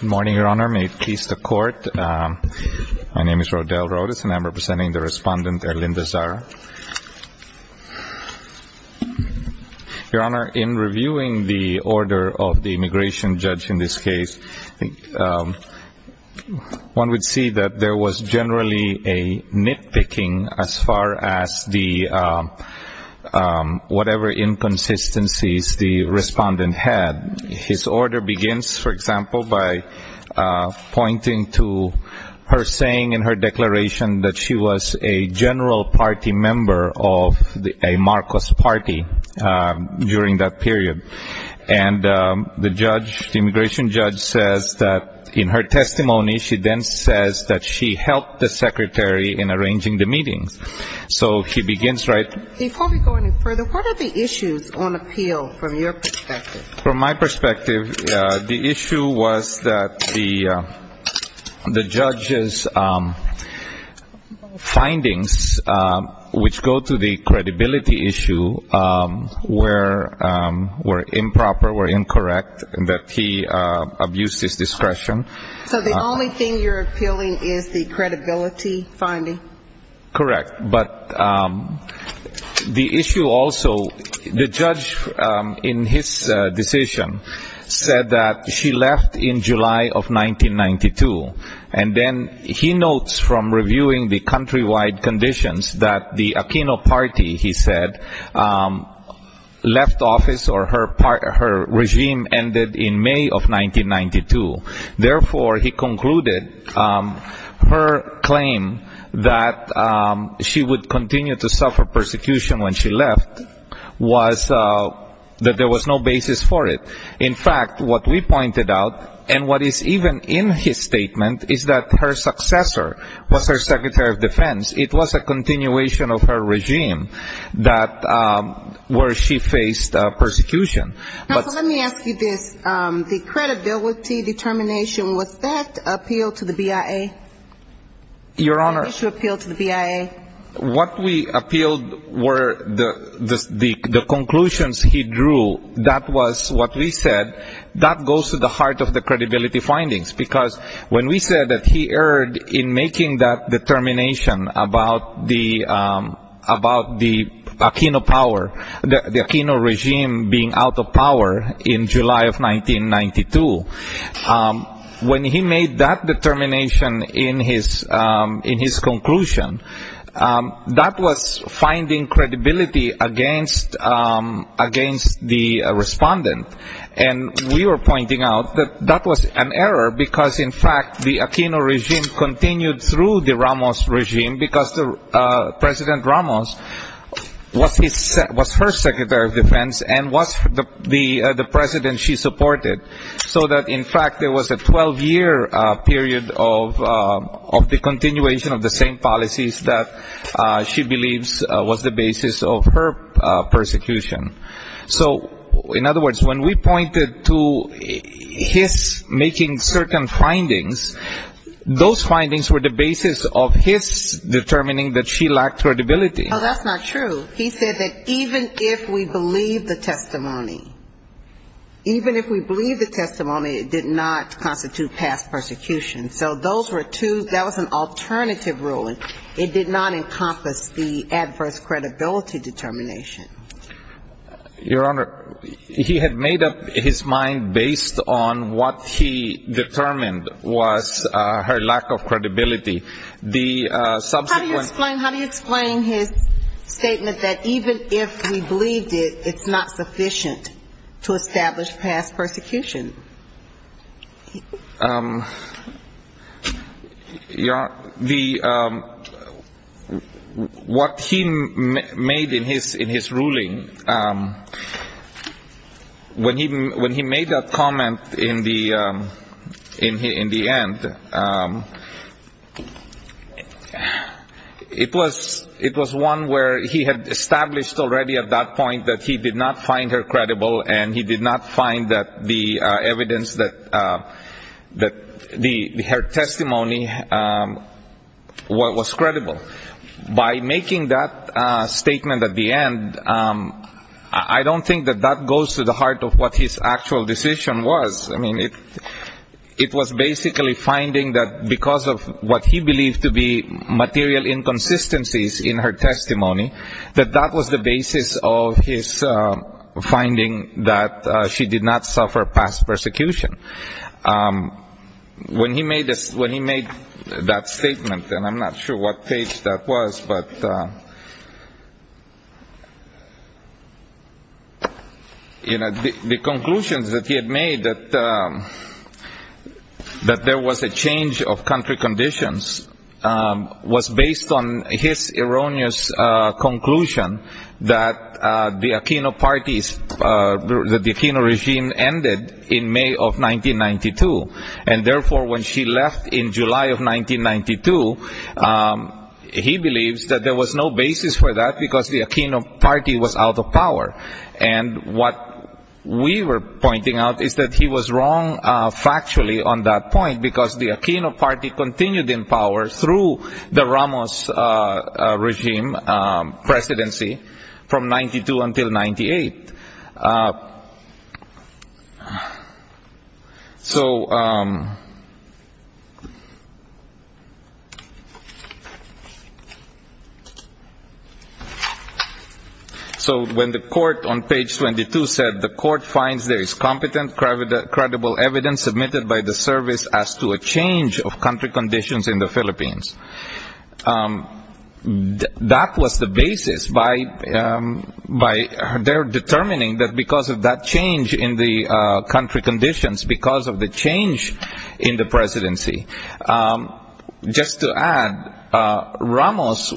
Good morning, Your Honor. May it please the Court. My name is Rodel Rodas, and I'm representing the Respondent, Erlinda Zara. Your Honor, in reviewing the order of the immigration judge in this case, one would see that there was generally a nitpicking as far as whatever inconsistencies the Respondent had. His order begins, for example, by pointing to her saying in her declaration that she was a general party member of a Marcos party during that period. And the judge, the immigration judge, says that in her testimony, she then says that she helped the Secretary in arranging the meetings. So he begins, right? Before we go any further, what are the issues on appeal from your perspective? From my perspective, the issue was that the judge's findings, which go to the credibility issue, were improper, were incorrect, that he abused his discretion. So the only thing you're appealing is the credibility finding? Correct. But the issue also, the judge in his decision said that she left in July of 1992. And then he notes from reviewing the countrywide conditions that the Aquino party, he said, left office or her regime ended in May of 1992. Therefore, he concluded her claim that she would continue to suffer persecution when she left was that there was no basis for it. In fact, what we pointed out, and what is even in his statement, is that her successor was her Secretary of Defense. It was a continuation of her regime where she faced persecution. Let me ask you this. The credibility determination, was that appealed to the BIA? Your Honor, what we appealed were the conclusions he drew. That was what we said. That goes to the heart of the credibility findings because when we said that he erred in making that determination about the Aquino power, the Aquino regime being out of power in July of 1992, when he made that determination in his conclusion, that was finding credibility against the respondent. And we were pointing out that that was an error because, in fact, the Aquino regime continued through the Ramos regime because President Ramos was her Secretary of Defense and was the president she supported. So that, in fact, there was a 12-year period of the continuation of the same policies that she believes was the basis of her persecution. So, in other words, when we pointed to his making certain findings, those findings were the basis of his determining that she lacked credibility. Oh, that's not true. He said that even if we believe the testimony, even if we believe the testimony, it did not constitute past persecution. So those were two, that was an alternative ruling. It did not encompass the adverse credibility determination. Your Honor, he had made up his mind based on what he determined was her lack of credibility. How do you explain his statement that even if we believed it, it's not sufficient to establish past persecution? Your Honor, what he made in his ruling, when he made that comment in the end, it was one where he had established already at that point that he did not find her credible and he did not find the evidence that her testimony was credible. By making that statement at the end, I don't think that that goes to the heart of what his actual decision was. I mean, it was basically finding that because of what he believed to be material inconsistencies in her testimony, that that was the basis of his finding that she did not suffer past persecution. When he made that statement, and I'm not sure what page that was, but you know, the conclusions that he had made, that there was a change of country conditions, was based on his erroneous conclusion that the Aquino regime ended in May of 1992. And therefore when she left in July of 1992, he believes that there was no basis for that because the Aquino party was out of power. And what we were pointing out is that he was wrong factually on that point because the Aquino party continued in power through the Ramos regime presidency from 1992 until 1998. So when the court on page 22 said, the court finds there is competent, credible evidence submitted by the service as to a change of country conditions in the Philippines. That was the basis by their determining that because of that change in the country conditions, because of the change in the presidency. Just to add, Ramos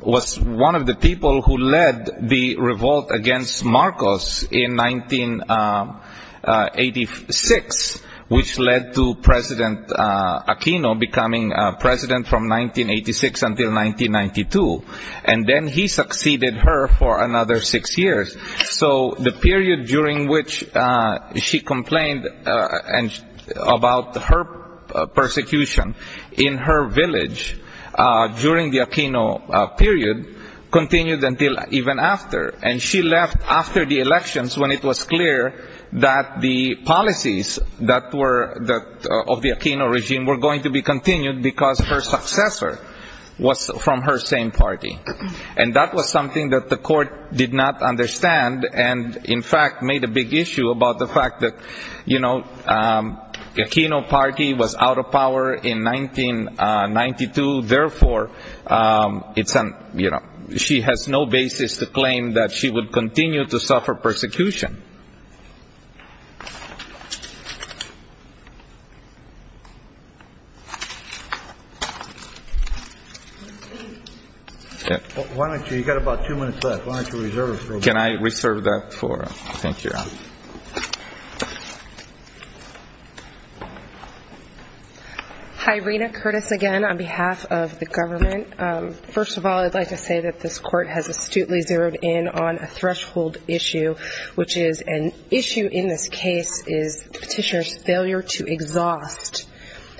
was one of the people who led the revolt against Marcos. In 1986, which led to President Aquino becoming president from 1986 until 1992. And then he succeeded her for another six years. So the period during which she complained about her persecution in her village during the Aquino period continued until even after. And she left after the elections when it was clear that the policies of the Aquino regime were going to be continued because her successor was from her same party. And that was something that the court did not understand and in fact made a big issue about the fact that the Aquino party was out of power in 1992. Therefore, she has no basis to claim that she would continue to suffer persecution. Why don't you, you've got about two minutes left, why don't you reserve it. Can I reserve that for, thank you. Hi, Rena Curtis again on behalf of the government. First of all, I'd like to say that this court has astutely zeroed in on a threshold issue, which is an issue in this case is the petitioner's failure to exhaust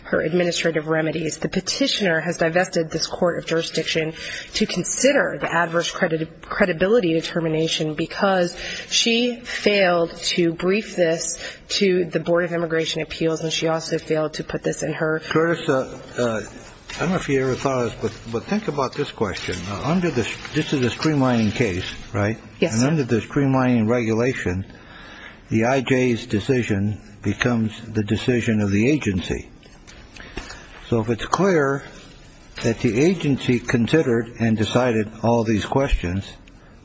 her administrative remedies. The petitioner has divested this court of jurisdiction to consider the adverse credibility determination, because she failed to brief this to the Board of Immigration Appeals and she also failed to put this in her. Curtis, I don't know if you ever thought of this, but think about this question under this. This is a streamlining case, right? Yes. Under the streamlining regulation, the IJ's decision becomes the decision of the agency. So if it's clear that the agency considered and decided all these questions,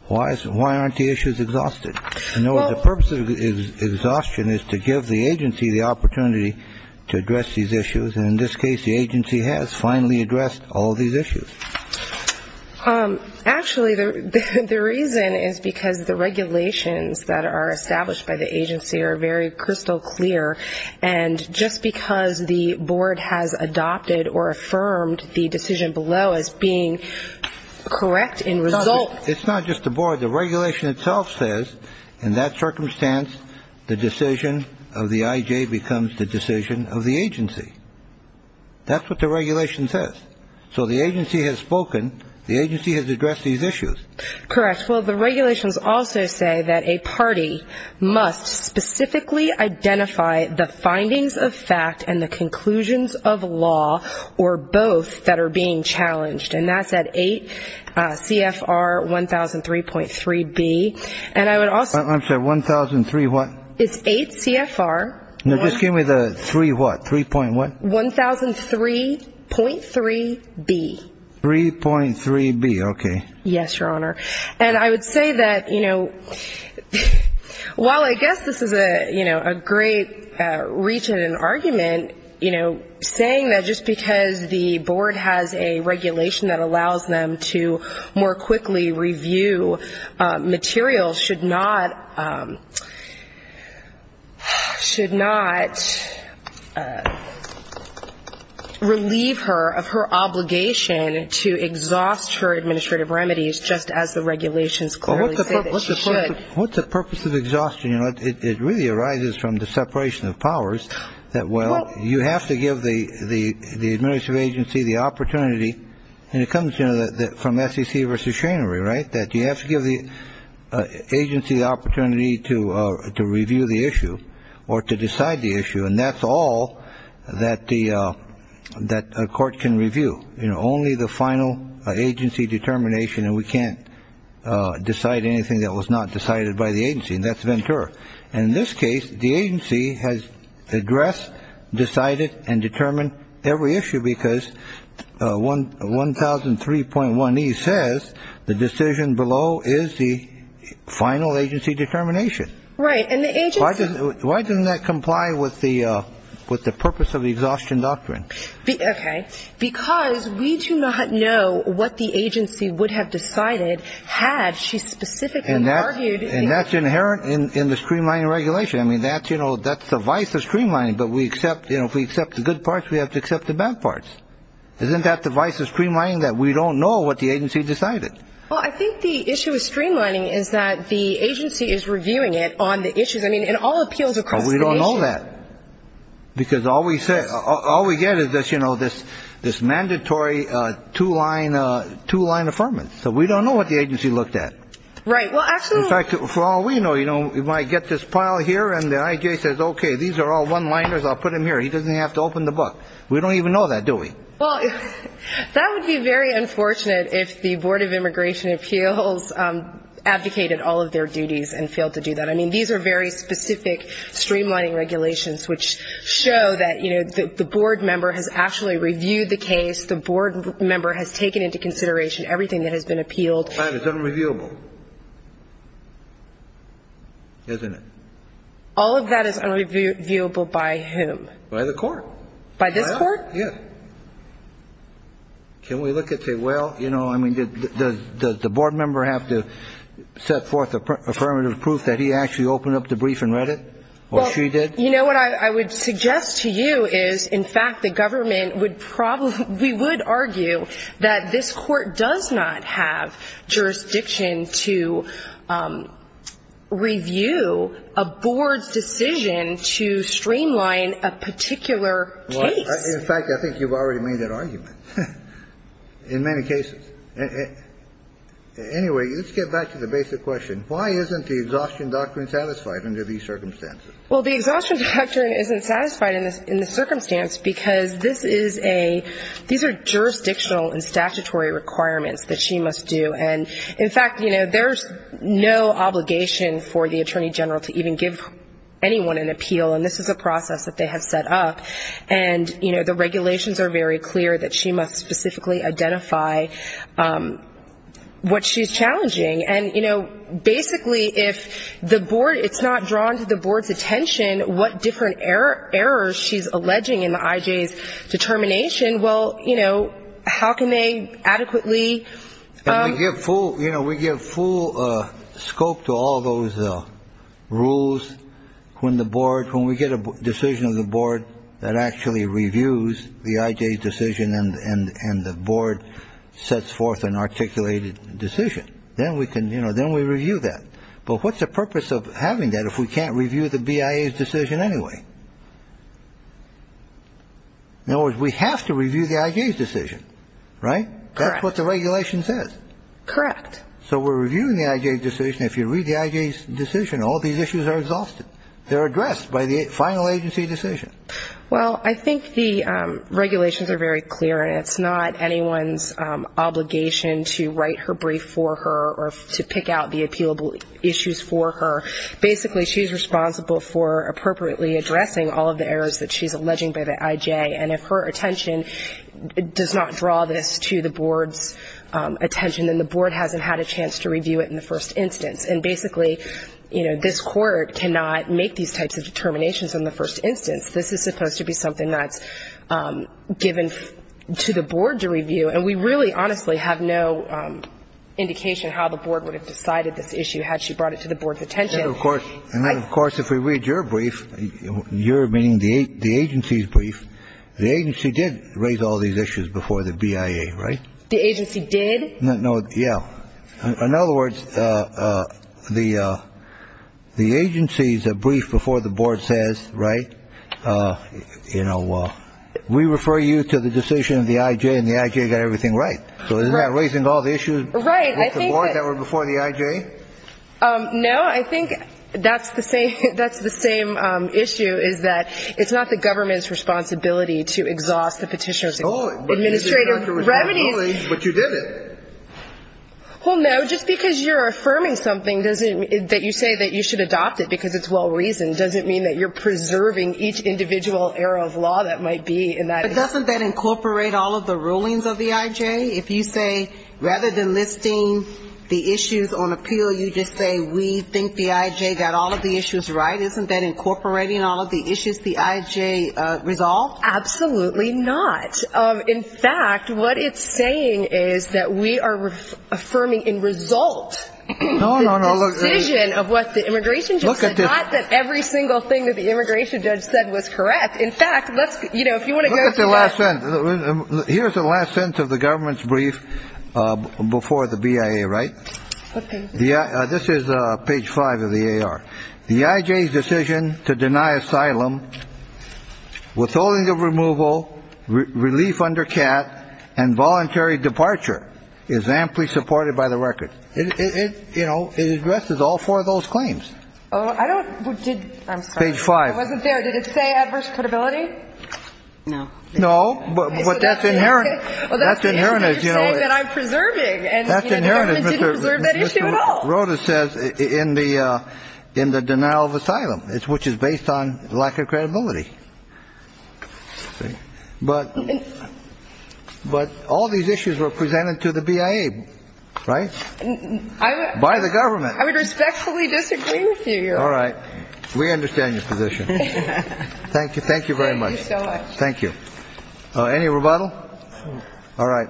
why isn't why aren't the issues exhausted? In other words, the purpose of exhaustion is to give the agency the opportunity to address these issues. And in this case, the agency has finally addressed all these issues. Actually, the reason is because the regulations that are established by the agency are very crystal clear. And just because the board has adopted or affirmed the decision below as being correct in result. It's not just the board. The regulation itself says in that circumstance, the decision of the IJ becomes the decision of the agency. That's what the regulation says. So the agency has spoken. The agency has addressed these issues. Correct. Well, the regulations also say that a party must specifically identify the findings of fact and the conclusions of law or both that are being challenged. And that's at eight CFR one thousand three point three B. And I would also say one thousand three. What is eight CFR? No. Just give me the three. What? Three point one thousand three point three B. Three point three B. OK. Yes, Your Honor. And I would say that, you know, while I guess this is a, you know, a great reach and an argument, you know, saying that just because the board has a regulation that allows them to more quickly review material should not, should not relieve her of her obligation to exhaust her administrative remedies, just as the regulations clearly say that she should. What's the purpose of exhaustion? You know, it really arises from the separation of powers that, well, you have to give the administrative agency the opportunity, and it comes, you know, from SEC versus Schenery, right, that you have to give the agency the opportunity to to review the issue or to decide the issue. And that's all that the that court can review. You know, only the final agency determination. And we can't decide anything that was not decided by the agency. And that's Ventura. And in this case, the agency has addressed, decided and determined every issue. Because one one thousand three point one, he says the decision below is the final agency determination. Right. And the agency. Why doesn't that comply with the with the purpose of exhaustion doctrine? Okay. Because we do not know what the agency would have decided had she specifically argued. And that's inherent in the streamlining regulation. I mean, that's you know, that's the vice of streamlining. But we accept, you know, if we accept the good parts, we have to accept the bad parts. Isn't that the vice of streamlining that we don't know what the agency decided? Well, I think the issue of streamlining is that the agency is reviewing it on the issues. I mean, in all appeals, because we don't know that because all we say, all we get is this, you know, this, this mandatory two line, two line affirmative. So we don't know what the agency looked at. Right. Well, actually, for all we know, you know, you might get this pile here and the IJ says, OK, these are all one liners. I'll put him here. He doesn't have to open the book. We don't even know that, do we? Well, that would be very unfortunate if the Board of Immigration Appeals advocated all of their duties and failed to do that. I mean, these are very specific streamlining regulations which show that, you know, the board member has actually reviewed the case. The board member has taken into consideration everything that has been appealed. It's unreviewable, isn't it? All of that is unreviewable by him. By the court. By this court. Yeah. Can we look at it? Well, you know, I mean, does the board member have to set forth affirmative proof that he actually opened up the brief and read it? Well, she did. You know what I would suggest to you is, in fact, the government would probably we would argue that this court does not have jurisdiction to review a board's decision to streamline a particular case. In fact, I think you've already made that argument in many cases. Anyway, let's get back to the basic question. Why isn't the exhaustion doctrine satisfied under these circumstances? Well, the exhaustion doctrine isn't satisfied in the circumstance because this is a these are jurisdictional and statutory requirements that she must do. And in fact, you know, there's no obligation for the attorney general to even give anyone an appeal. And this is a process that they have set up. And, you know, the regulations are very clear that she must specifically identify what she's challenging. And, you know, basically, if the board it's not drawn to the board's attention, what different error errors she's alleging in the IJS determination. Well, you know, how can they adequately get full? You know, we give full scope to all those rules when the board when we get a decision of the board that actually reviews the IJS decision. And the board sets forth an articulated decision. Then we can you know, then we review that. But what's the purpose of having that if we can't review the BIA decision anyway? In other words, we have to review the IJS decision, right? That's what the regulation says. Correct. So we're reviewing the IJS decision. If you read the IJS decision, all these issues are exhausted. They're addressed by the final agency decision. Well, I think the regulations are very clear. And it's not anyone's obligation to write her brief for her or to pick out the appealable issues for her. Basically, she's responsible for appropriately addressing all of the errors that she's alleging by the IJ. And if her attention does not draw this to the board's attention, then the board hasn't had a chance to review it in the first instance. And basically, you know, this court cannot make these types of determinations in the first instance. This is supposed to be something that's given to the board to review. And we really honestly have no indication how the board would have decided this issue had she brought it to the board's attention. Of course. And then, of course, if we read your brief, you're meaning the agency's brief. The agency did raise all these issues before the BIA. Right. The agency did. No. Yeah. In other words, the the agency's a brief before the board says. Right. You know, we refer you to the decision of the IJ and the IJ got everything right. So isn't that raising all the issues with the board that were before the IJ? No, I think that's the same. That's the same issue is that it's not the government's responsibility to exhaust the petitioner's administrative remedies. But you did it. Well, no, just because you're affirming something doesn't mean that you say that you should adopt it because it's well-reasoned. Doesn't mean that you're preserving each individual error of law that might be in that. Doesn't that incorporate all of the rulings of the IJ? If you say rather than listing the issues on appeal, you just say we think the IJ got all of the issues right. Isn't that incorporating all of the issues the IJ resolved? Absolutely not. In fact, what it's saying is that we are affirming in result. No, no, no. The decision of what the immigration judge said, not that every single thing that the immigration judge said was correct. In fact, let's you know, if you want to get the last sentence, here's the last sentence of the government's brief before the BIA. Right. Yeah. This is page five of the A.R. The IJ decision to deny asylum withholding of removal relief under cat and voluntary departure is amply supported by the record. You know, it addresses all four of those claims. Oh, I don't. I'm sorry. Page five. I wasn't there. Did it say adverse credibility? No. No. But that's inherent. That's inherent. You're saying that I'm preserving. That's inherent. And the government didn't preserve that issue at all. Rota says in the denial of asylum, which is based on lack of credibility. But all these issues were presented to the BIA, right? By the government. I would respectfully disagree with you. All right. We understand your position. Thank you. Thank you very much. Thank you so much. Thank you. Any rebuttal. All right.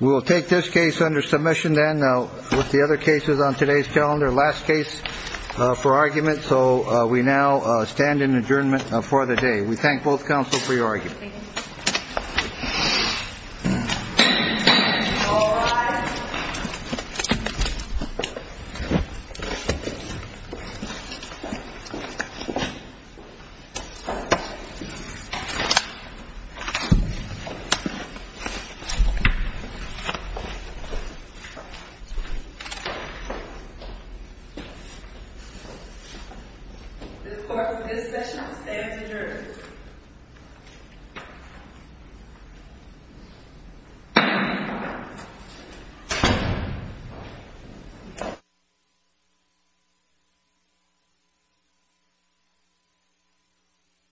We will take this case under submission then with the other cases on today's calendar. Last case for argument. So we now stand in adjournment for the day. We thank both counsel for your argument. Thank you. Thank you.